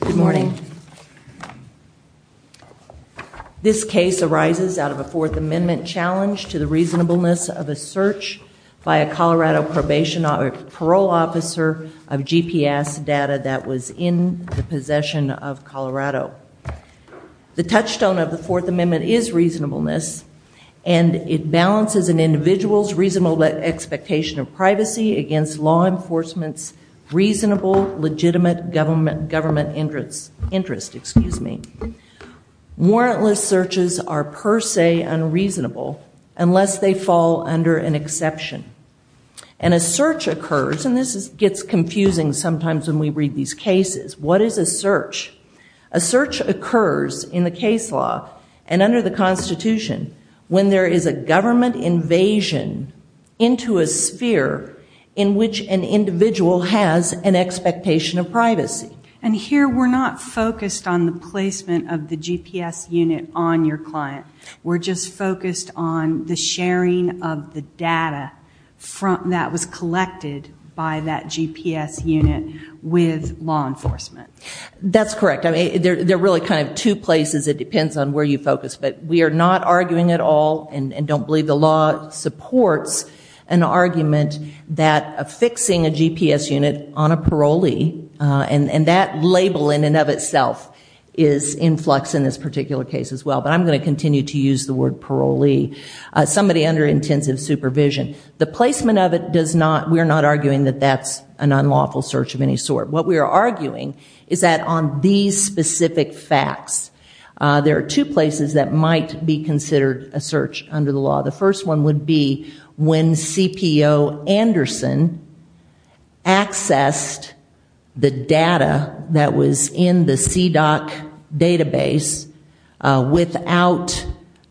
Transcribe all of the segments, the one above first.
Good morning. This case arises out of a Fourth Amendment challenge to the reasonableness of a search by a Colorado probation or parole officer of GPS data that was in the possession of Colorado. The touchstone of the Fourth Amendment is reasonableness, and it balances an individual's reasonable expectation of privacy against law enforcement's reasonable legitimate government interest. Warrantless searches are per se unreasonable unless they fall under an exception. And a search occurs, and this gets confusing sometimes when we read these cases. What is a search? A search occurs in the case law and under the Constitution when there is a government invasion into a sphere in which an individual has an expectation of privacy. And here we're not focused on the placement of the GPS unit on your client. We're just focused on the sharing of the data that was collected by that GPS unit with law enforcement. That's correct. I mean, they're really kind of two places. It depends on where you focus. But we are not arguing at all and don't believe the law supports an argument that affixing a GPS unit on a parolee, and that label in and of itself is in flux in this particular case as well. But I'm going to continue to use the word parolee, somebody under intensive supervision. The placement of it does not, we're not arguing that that's an unlawful search of any sort. What we are arguing is that on these specific facts, there are two places that might be considered a search under the law. The first one would be when CPO Anderson accessed the data that was in the CDOC database without,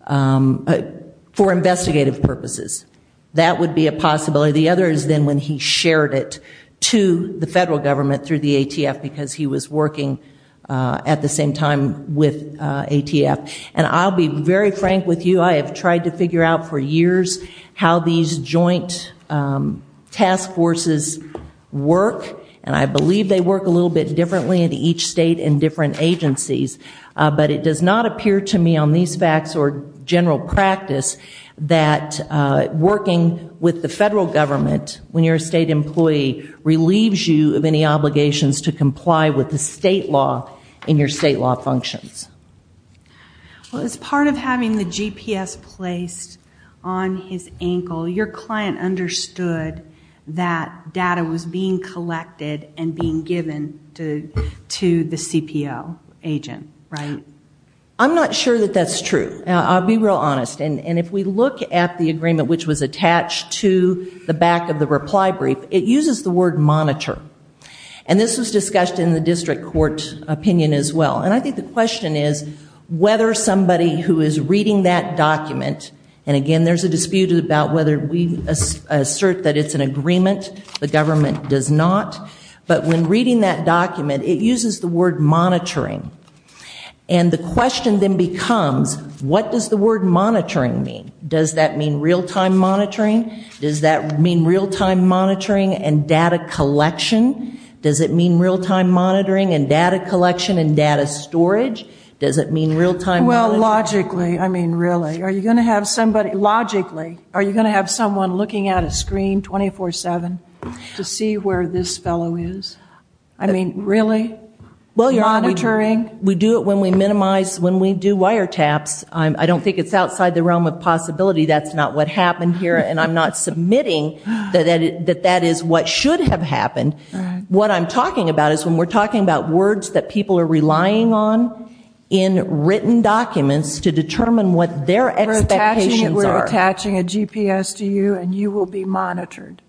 for investigative purposes. That would be a possibility. The other is then when he shared it to the federal government through the ATF because he was working at the same time with ATF. And I'll be very frank with you. I have tried to figure out for years how these joint task forces work and I believe they work a little bit differently in each state and different agencies. But it does not appear to me on these facts or general practice that working with the federal government has any obligations to comply with the state law in your state law functions. Well, as part of having the GPS placed on his ankle, your client understood that data was being collected and being given to the CPO agent, right? I'm not sure that that's true. I'll be real honest. And if we look at the agreement which was attached to the back of the reply brief, it uses the word monitor. And this was discussed in the district court opinion as well. And I think the question is whether somebody who is reading that document, and again there's a dispute about whether we assert that it's an agreement. The government does not. But when reading that document, it uses the word monitoring. And the question then becomes, what does the word monitoring mean? Does that mean real-time monitoring? Does that mean real-time monitoring and data collection? Does it mean real-time monitoring and data collection and data storage? Does it mean real-time? Well, logically, I mean really. Are you going to have somebody, logically, are you going to have someone looking at a screen 24-7 to see where this fellow is? I mean really? Monitoring? We do it when we minimize, when we do wiretaps. I don't think it's outside the realm of possibility. That's not what happened here. And I'm not submitting that that is what should have happened. What I'm talking about is when we're talking about words that people are relying on in written documents to determine what their expectations are. We're attaching a GPS to you and you will be monitored.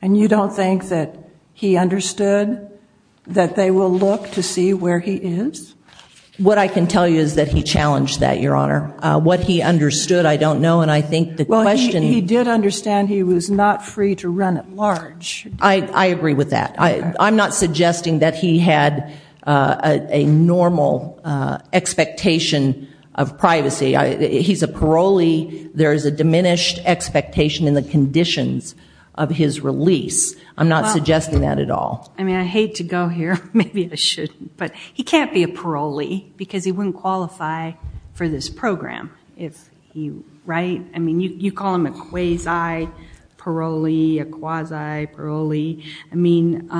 And you don't think that he understood that they will look to see where he is? What I can tell you is that he challenged that, Your Honor. What he understood, I don't know, and I think the question... Well, he did understand he was not free to run at large. I agree with that. I'm not suggesting that he had a normal expectation of privacy. He's a parolee. There is a diminished expectation in the conditions of his release. I'm not suggesting that at all. I mean, I hate to go here. Maybe I shouldn't. But he can't be a parolee because he wouldn't qualify for this program. I mean, you call him a quasi-parolee, a quasi-parolee. I mean,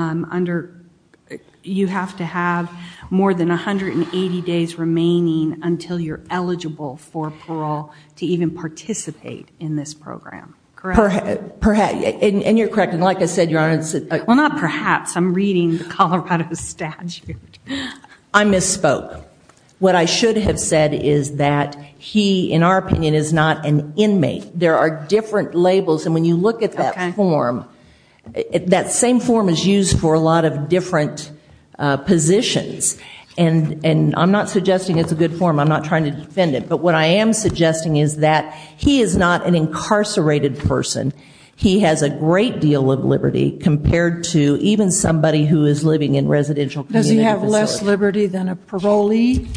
you have to have more than 180 days remaining until you're eligible for parole to even participate in this program. Correct? And you're correct. And like I said, Your Honor... Well, not perhaps. I'm reading the Colorado statute. I misspoke. What I should have said is that he, in our opinion, is not an inmate. There are different labels. And when you look at that form, that same form is used for a lot of different positions. And I'm not suggesting it's a good form. I'm not trying to defend it. But what I am suggesting is that he is not an incarcerated person. He has a great deal of liberty compared to even somebody who is living in residential communities. Does he have less liberty than a parolee?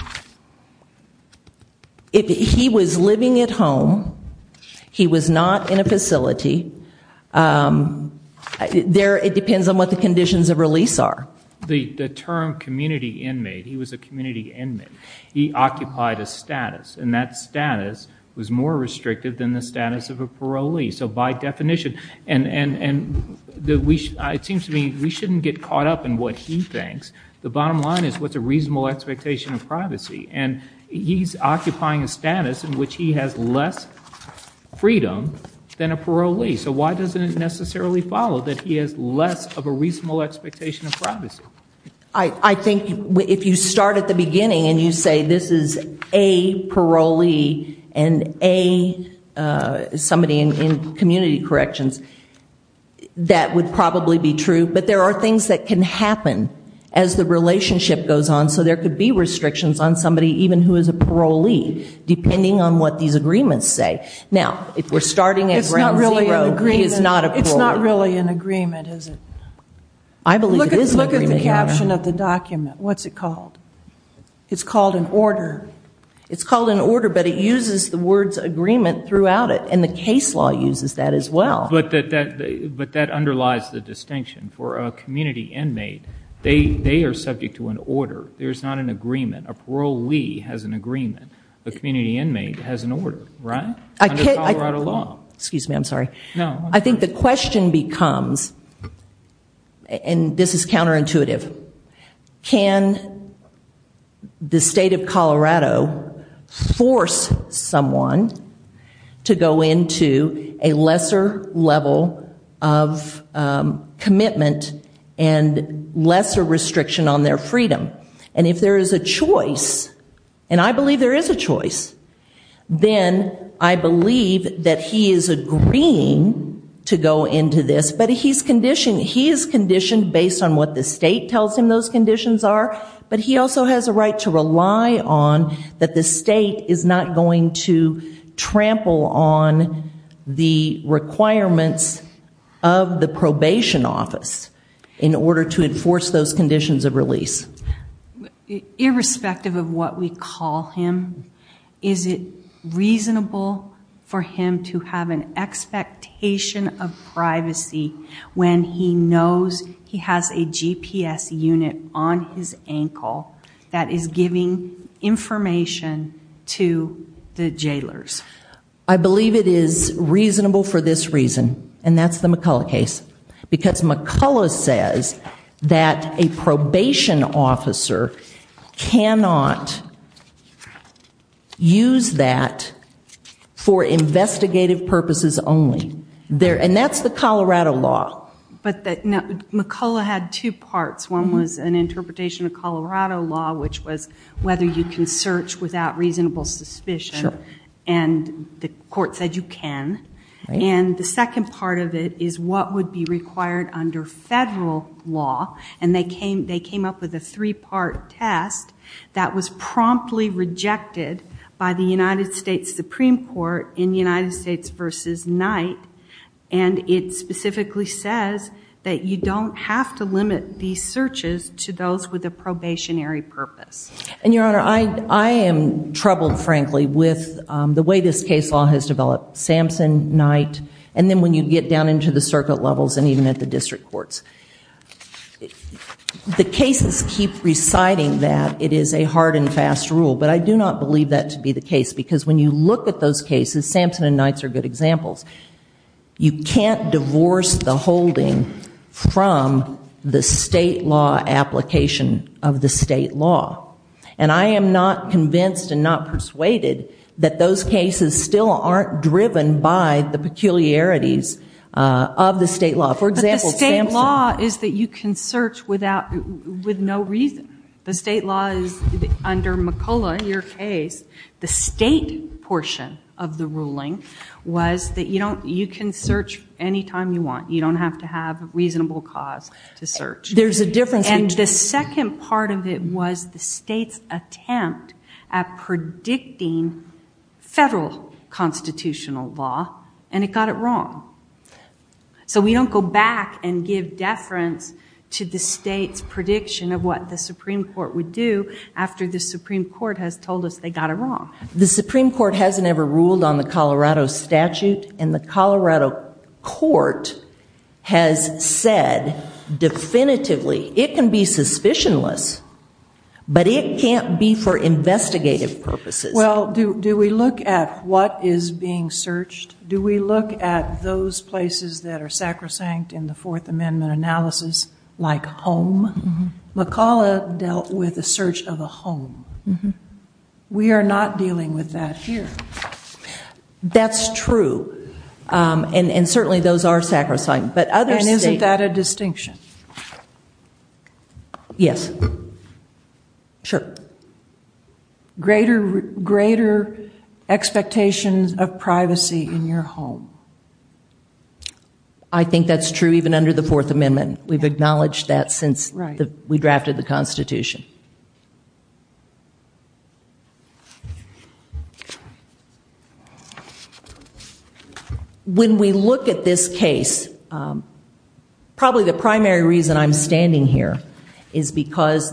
He was living at home. He was not in a facility. It depends on what the conditions of release are. The term community inmate, he was a community inmate. He occupied a status. And that status was more restrictive than the status of a parolee. So by definition, it seems to me we shouldn't get caught up in what he thinks. The bottom line is what's a reasonable expectation of privacy. And he's occupying a status in which he has less freedom than a parolee. So why doesn't it necessarily follow that he has less of a reasonable expectation of privacy? I think if you start at the beginning and you say this is a parolee and a somebody in community corrections, that would probably be true. But there are things that can happen as the relationship goes on. So there could be restrictions on somebody even who is a parolee, depending on what these agreements say. Now if we're starting at ground zero, he is not a parolee. It's not really an agreement, is it? I believe it is an agreement. Look at the caption of the document. What's it called? It's called an order. It's called an order, but it uses the words agreement throughout it. And the case law uses that as well. But that underlies the distinction. For a community inmate, they are subject to an order. There's not an agreement. A parolee has an agreement. A community inmate has an order, right? Under Colorado law. Excuse me, I'm sorry. I think the question becomes, and this is counterintuitive, can the state of Colorado force someone to go into a lesser level of commitment and lesser restriction on their freedom? And if there is a choice, and I believe there is a choice, then I believe that he is agreeing to go into this, but he is conditioned based on what the state tells him those conditions are, but he also has a right to rely on that the state is not going to trample on the requirements of the probation office in order to enforce those conditions of release. Irrespective of what we call him, is it reasonable for him to have an expectation of privacy when he knows he has a GPS unit on his ankle that is giving information to the jailers? I believe it is reasonable for this reason. And that's the McCullough case. Because McCullough says that a probation officer cannot use that for investigative purposes only. And that's the Colorado law. McCullough had two parts. One was an interpretation of Colorado law, which was whether you can search without reasonable suspicion. And the court said you can. And the second part of it is what would be required under federal law. And they came up with a three-part test that was promptly rejected by the United States Supreme Court in United States v. Knight. And it specifically says that you don't have to limit these searches to those with a probationary purpose. And, Your Honor, I am troubled, frankly, with the way this case law has developed. Samson, Knight, and then when you get down into the circuit levels and even at the district courts. The cases keep reciting that it is a hard and fast rule. But I do not believe that to be good examples. You can't divorce the holding from the state law application of the state law. And I am not convinced and not persuaded that those cases still aren't driven by the peculiarities of the state law. For example, Samson. But the state law is that you can search without, with no reason. The state law is, under McCullough and your case, the state portion of the ruling was that you can search any time you want. You don't have to have a reasonable cause to search. There's a difference between And the second part of it was the state's attempt at predicting federal constitutional law. And it got it wrong. So we don't go back and give deference to the state's prediction of what the Supreme Court would do after the Supreme Court has told us they got it wrong. The Supreme Court hasn't ever ruled on the Colorado statute. And the Colorado court has said definitively, it can be suspicionless, but it can't be for investigative purposes. Well, do we look at what is being searched? Do we look at those places that are sacrosanct in the Fourth Amendment analysis, like home? McCullough dealt with the search of a home. We are not dealing with that here. That's true. And certainly those are sacrosanct. And isn't that a distinction? Yes. Sure. Greater expectations of privacy in your home. I think that's true even under the Fourth Amendment. We've acknowledged that since we drafted the Constitution. When we look at this case, probably the primary reason I'm standing here is because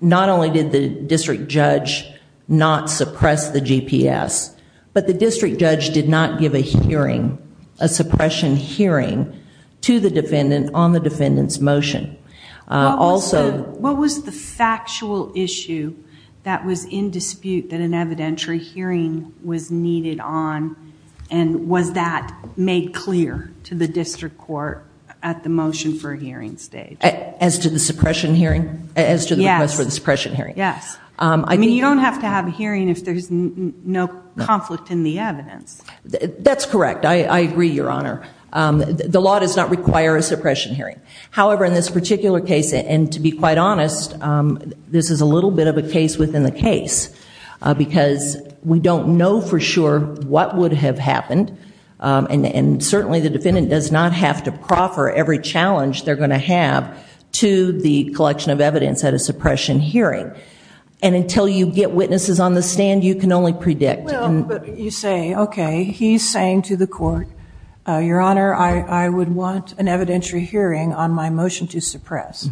not only did the district judge not suppress the GPS, but the district judge did not give a suppression hearing to the defendant on the defendant's motion. What was the factual issue that was in dispute that an evidentiary hearing was needed on? And was that made clear to the district court at the motion for hearing stage? As to the suppression hearing? As to the request for the suppression hearing? Yes. I mean, you don't have to have a hearing if there's no conflict in the evidence. That's correct. I agree, Your Honor. The law does not require a suppression hearing. However, in this particular case, and to be quite honest, this is a little bit of a case within the case, because we don't know for sure what would have happened. And certainly the defendant does not have to proffer every challenge they're going to have to the collection of evidence at a suppression hearing. And until you get witnesses on the stand, you can only predict. You say, okay, he's saying to the court, Your Honor, I would want an evidentiary hearing on my motion to suppress.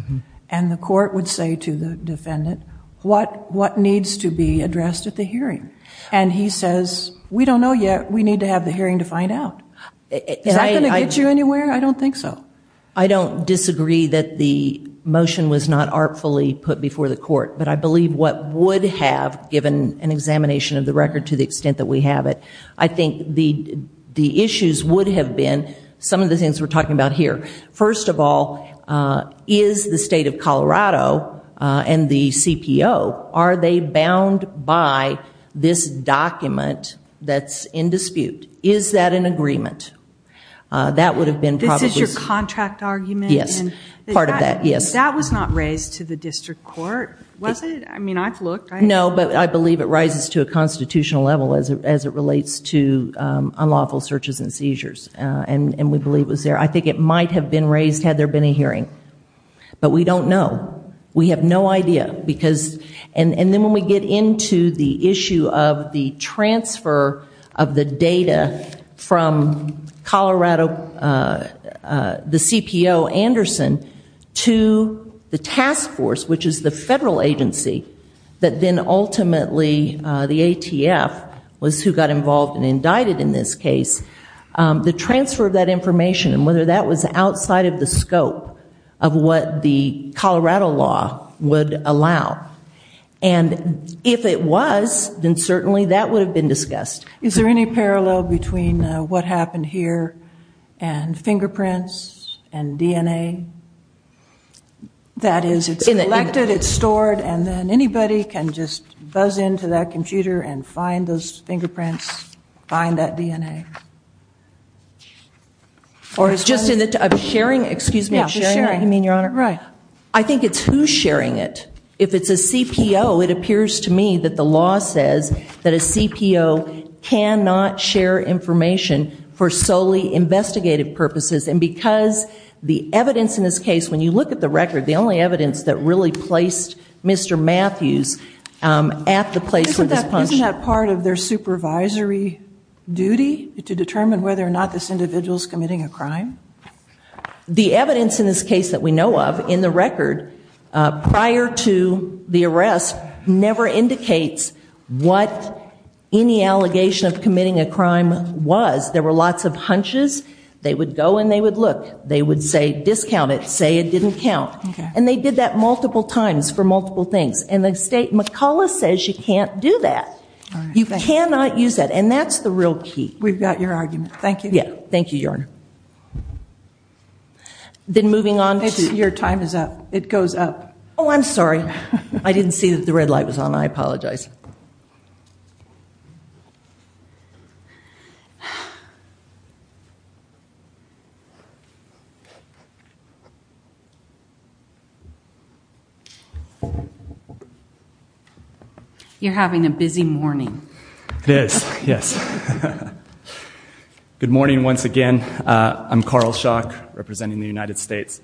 And the court would say to the defendant, what needs to be addressed at the hearing? And he says, we don't know yet. We need to have the hearing to find out. Is that going to get you anywhere? I don't think so. I don't disagree that the motion was not artfully put before the court. But I believe what would have, given an examination of the record to the extent that we have it, I think the issues would have been some of the things we're talking about here. First of all, is the state of Colorado and the CPO, are they bound by this document that's in dispute? Is that an agreement? This is your contract argument? Yes, part of that, yes. That was not raised to the district court, was it? I mean, I've looked. No, but I believe it rises to a constitutional level as it relates to unlawful searches and seizures. And we believe it was there. I think it might have been raised had there been a hearing. But we don't know. We have no idea. And then when we get into the issue of the transfer of the data from Colorado, the CPO Anderson, to the task force, which is the federal agency, that then ultimately the ATF was who got involved and indicted in this case, the transfer of that information and whether that was outside of the scope of what the Colorado law would allow. And if it was, then certainly that would have been discussed. Is there any parallel between what happened here and fingerprints and DNA? That is, it's collected, it's stored, and then anybody can just buzz into that computer and find those fingerprints, find that DNA. Or sharing, excuse me. Sharing, you mean, Your Honor? Right. I think it's who's sharing it. If it's a CPO, it appears to me that the law says that a CPO cannot share information for solely investigative purposes. And because the evidence in this case, when you look at the record, the only evidence that really placed Mr. Matthews at the place of this punch. Isn't that part of their supervisory duty to determine whether or not this individual is committing a crime? The evidence in this case that we know of in the record prior to the arrest never indicates what any allegation of committing a crime was. There were lots of hunches. They would go and they would look. They would say, discount it, say it didn't count. And they did that multiple times for multiple things. And the state, McCullough says you can't do that. You cannot use that. And that's the real key. We've got your argument. Thank you. Thank you, Your Honor. Then moving on. Your time is up. It goes up. Oh, I'm sorry. I didn't see that the red light was on. I apologize. You're having a busy morning. It is, yes. Good morning once again. I'm Carl Schock representing the United States.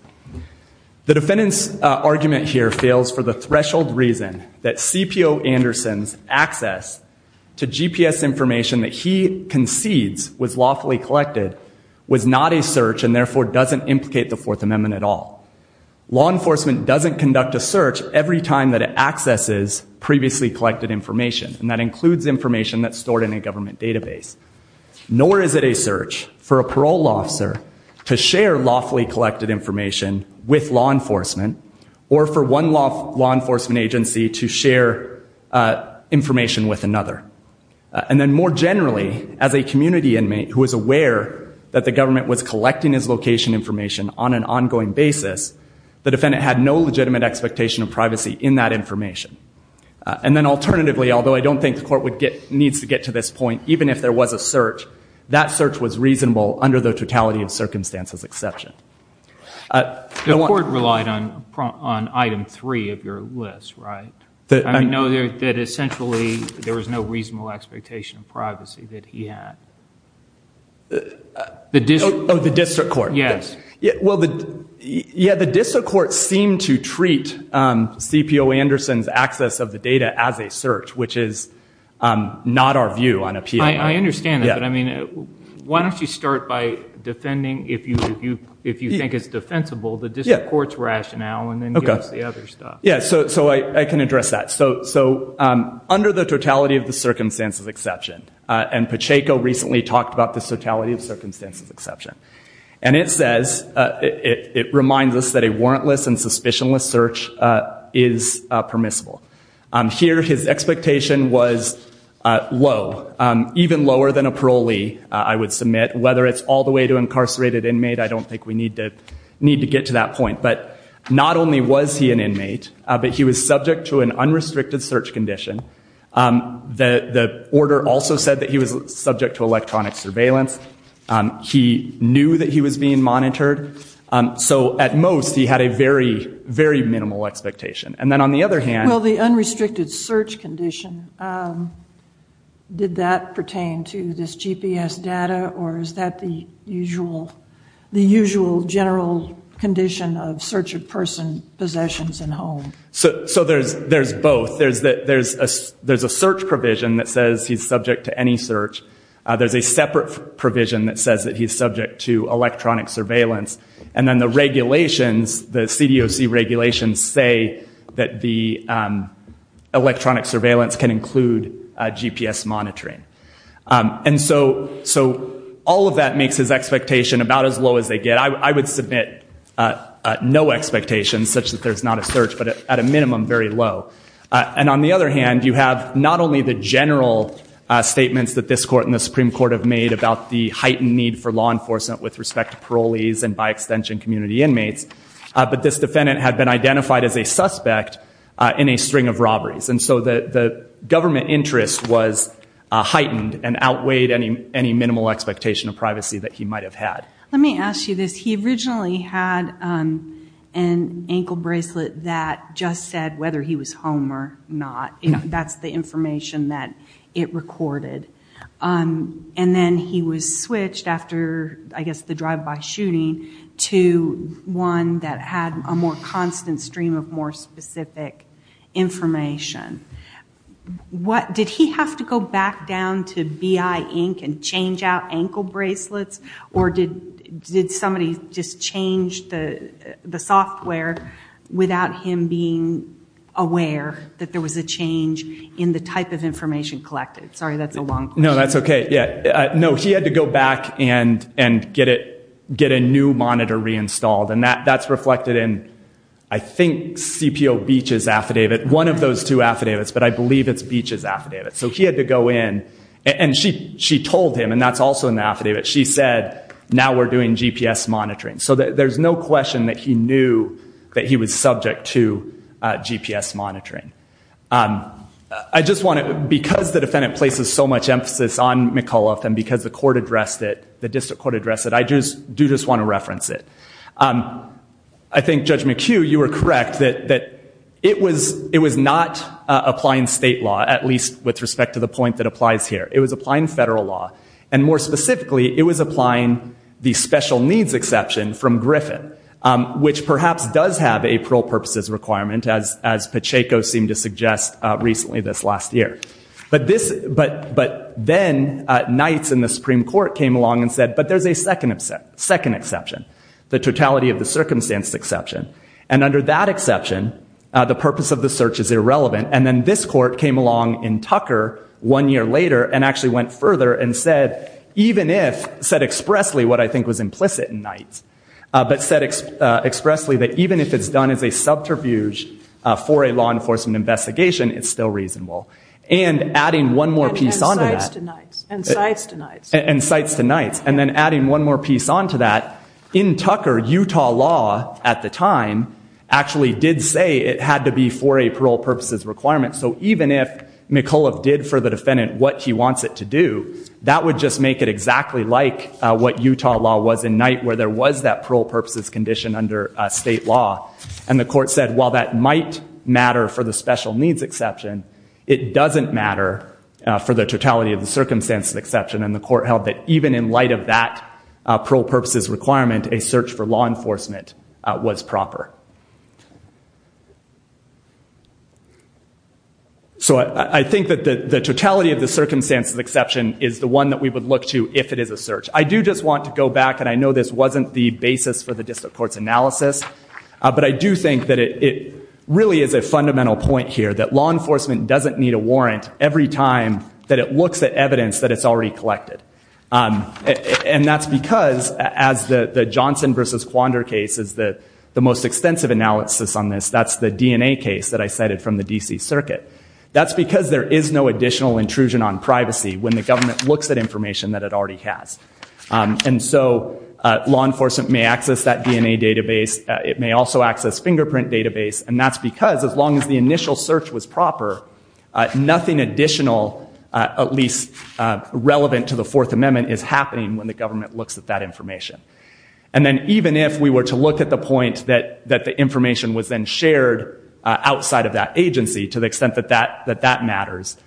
The defendant's argument here fails for the threshold reason that CPO Anderson's access to GPS information that he concedes was lawfully collected was not a search and therefore doesn't implicate the Fourth Amendment at all. Law enforcement doesn't conduct a search every time that it accesses previously collected information. And that includes information that's stored in a government database. Nor is it a search for a parole officer to share lawfully collected information with law enforcement or for one law enforcement agency to share information with another. And then more generally, as a community inmate who is aware that the government was collecting his location information on an ongoing basis, the defendant had no legitimate expectation of privacy in that information. And then alternatively, although I don't think the court needs to get to this point, even if there was a search, that search was reasonable under the totality of circumstances exception. The court relied on item three of your list, right? I know that essentially there was no reasonable expectation of privacy that he had. Oh, the district court. Yes. Well, yeah, the district court seemed to treat CPO Anderson's access of the data as a search, which is not our view on appeal. I understand that. But I mean, why don't you start by defending, if you think it's defensible, the district court's rationale and then give us the other stuff. Yeah, so I can address that. So under the totality of the circumstances exception, and Pacheco recently talked about the totality of circumstances exception. And it says, it reminds us that a warrantless and suspicionless search is permissible. Here, his expectation was low, even lower than a parolee, I would submit. Whether it's all the way to incarcerated inmate, I don't think we need to get to that point. But not only was he an inmate, but he was subject to an unrestricted search condition. The order also said that he was subject to electronic surveillance. He knew that he was being monitored. So at most, he had a very, very minimal expectation. Well, the unrestricted search condition, did that pertain to this GPS data, or is that the usual general condition of search of person possessions in home? So there's both. There's a search provision that says he's subject to any search. There's a separate provision that says that he's subject to electronic surveillance. And then the regulations, the CDOC regulations, say that the electronic surveillance can include GPS monitoring. And so all of that makes his expectation about as low as they get. I would submit no expectations, such that there's not a search, but at a minimum, very low. And on the other hand, you have not only the general statements that this court and the Supreme Court have made about the heightened need for law enforcement with respect to parolees and, by extension, community inmates, but this defendant had been identified as a suspect in a string of robberies. And so the government interest was heightened and outweighed any minimal expectation of privacy that he might have had. Let me ask you this. He originally had an ankle bracelet that just said whether he was home or not. That's the information that it recorded. And then he was switched after, I guess, the drive-by shooting to one that had a more constant stream of more specific information. Did he have to go back down to BI Inc. and change out ankle bracelets? Or did somebody just change the software without him being aware that there was a change in the type of information collected? Sorry, that's a long question. No, that's okay. No, he had to go back and get a new monitor reinstalled. And that's reflected in, I think, CPO Beach's affidavit. One of those two affidavits, but I believe it's Beach's affidavit. So he had to go in, and she told him, and that's also in the affidavit, she said, now we're doing GPS monitoring. So there's no question that he knew that he was subject to GPS monitoring. I just want to, because the defendant places so much emphasis on McAuliffe and because the court addressed it, the district court addressed it, I do just want to reference it. I think, Judge McHugh, you were correct that it was not applying state law, at least with respect to the point that applies here. It was applying federal law. And more specifically, it was applying the special needs exception from Griffin, which perhaps does have a parole purposes requirement, as Pacheco seemed to suggest recently this last year. But then Knights and the Supreme Court came along and said, but there's a second exception. The totality of the circumstance exception. And under that exception, the purpose of the search is irrelevant. And then this court came along in Tucker one year later and actually went further and said, even if, said expressly what I think was implicit in Knights, but said expressly that even if it's done as a subterfuge for a law enforcement investigation, it's still reasonable. And adding one more piece onto that. And cites to Knights. And cites to Knights. And then adding one more piece onto that. In Tucker, Utah law at the time actually did say it had to be for a parole purposes requirement. So even if McAuliffe did for the defendant what he wants it to do, that would just make it exactly like what Utah law was in Knight where there was that parole purposes condition under state law. And the court said, while that might matter for the special needs exception, it doesn't matter for the totality of the circumstance exception. And the court held that even in light of that parole purposes requirement, a search for law enforcement was proper. So I think that the totality of the circumstances exception is the one that we would look to if it is a search. I do just want to go back, and I know this wasn't the basis for the district court's analysis, but I do think that it really is a fundamental point here, that law enforcement doesn't need a warrant every time that it looks at evidence that it's already collected. And that's because, as the Johnson versus Quandar case is the most extensive analysis on this, that's the DNA case that I cited from the D.C. Circuit. That's because there is no additional intrusion on privacy when the government looks at information that it already has. And so law enforcement may access that DNA database. It may also access fingerprint database. And that's because, as long as the initial search was proper, nothing additional, at least relevant to the Fourth Amendment, is happening when the government looks at that information. And then even if we were to look at the point that the information was then shared outside of that agency, to the extent that that matters,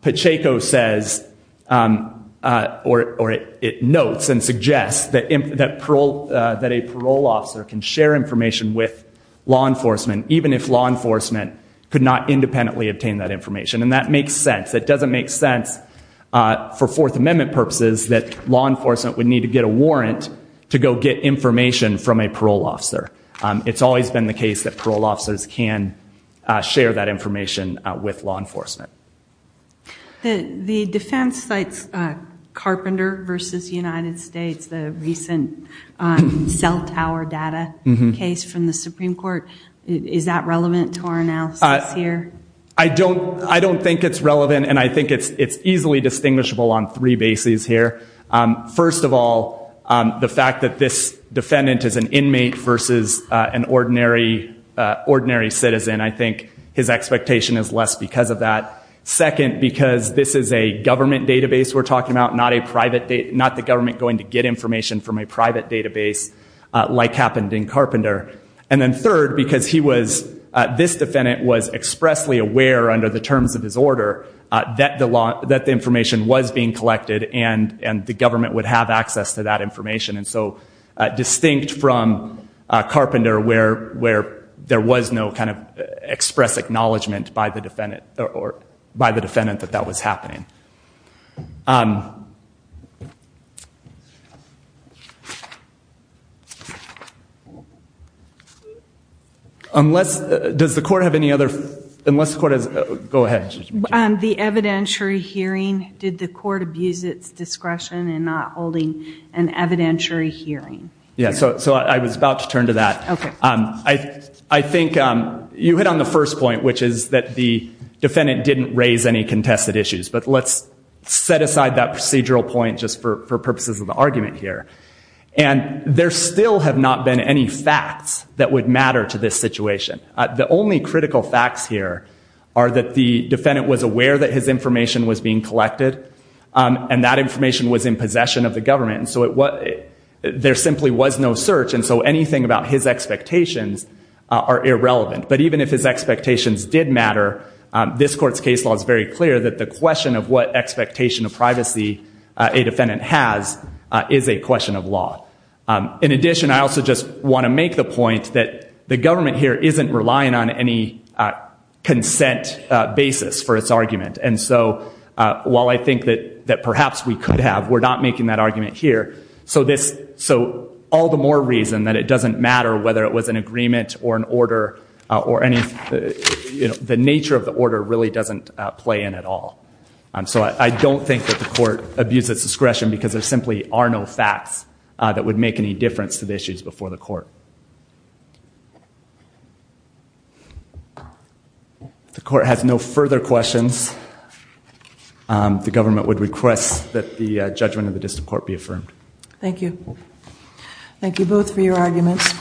Pacheco says, or it notes and suggests, that a parole officer can share information with law enforcement, even if law enforcement could not independently obtain that information. And that makes sense. It doesn't make sense, for Fourth Amendment purposes, that law enforcement would need to get a warrant to go get information from a parole officer. It's always been the case that parole officers can share that information with law enforcement. The defense cites Carpenter versus United States, the recent cell tower data case from the Supreme Court. Is that relevant to our analysis here? I don't think it's relevant, and I think it's easily distinguishable on three bases here. First of all, the fact that this defendant is an inmate versus an ordinary citizen, and I think his expectation is less because of that. Second, because this is a government database we're talking about, not the government going to get information from a private database, like happened in Carpenter. And then third, because this defendant was expressly aware, under the terms of his order, that the information was being collected, and the government would have access to that information. Distinct from Carpenter, where there was no express acknowledgment by the defendant that that was happening. Unless, does the court have any other, unless the court has, go ahead. The evidentiary hearing, did the court abuse its discretion in not holding an evidentiary hearing? Yeah, so I was about to turn to that. Okay. I think you hit on the first point, which is that the defendant didn't raise any contested issues, just for purposes of the argument here. And there still have not been any facts that would matter to this situation. The only critical facts here are that the defendant was aware that his information was being collected, and that information was in possession of the government. And so there simply was no search, and so anything about his expectations are irrelevant. But even if his expectations did matter, this court's case law is very clear that the question of what expectation of privacy a defendant has is a question of law. In addition, I also just want to make the point that the government here isn't relying on any consent basis for its argument. And so while I think that perhaps we could have, we're not making that argument here. So all the more reason that it doesn't matter whether it was an agreement or an order, or the nature of the order really doesn't play in at all. So I don't think that the court abused its discretion because there simply are no facts that would make any difference to the issues before the court. If the court has no further questions, the government would request that the judgment of the district court be affirmed. Thank you. Thank you both for your arguments.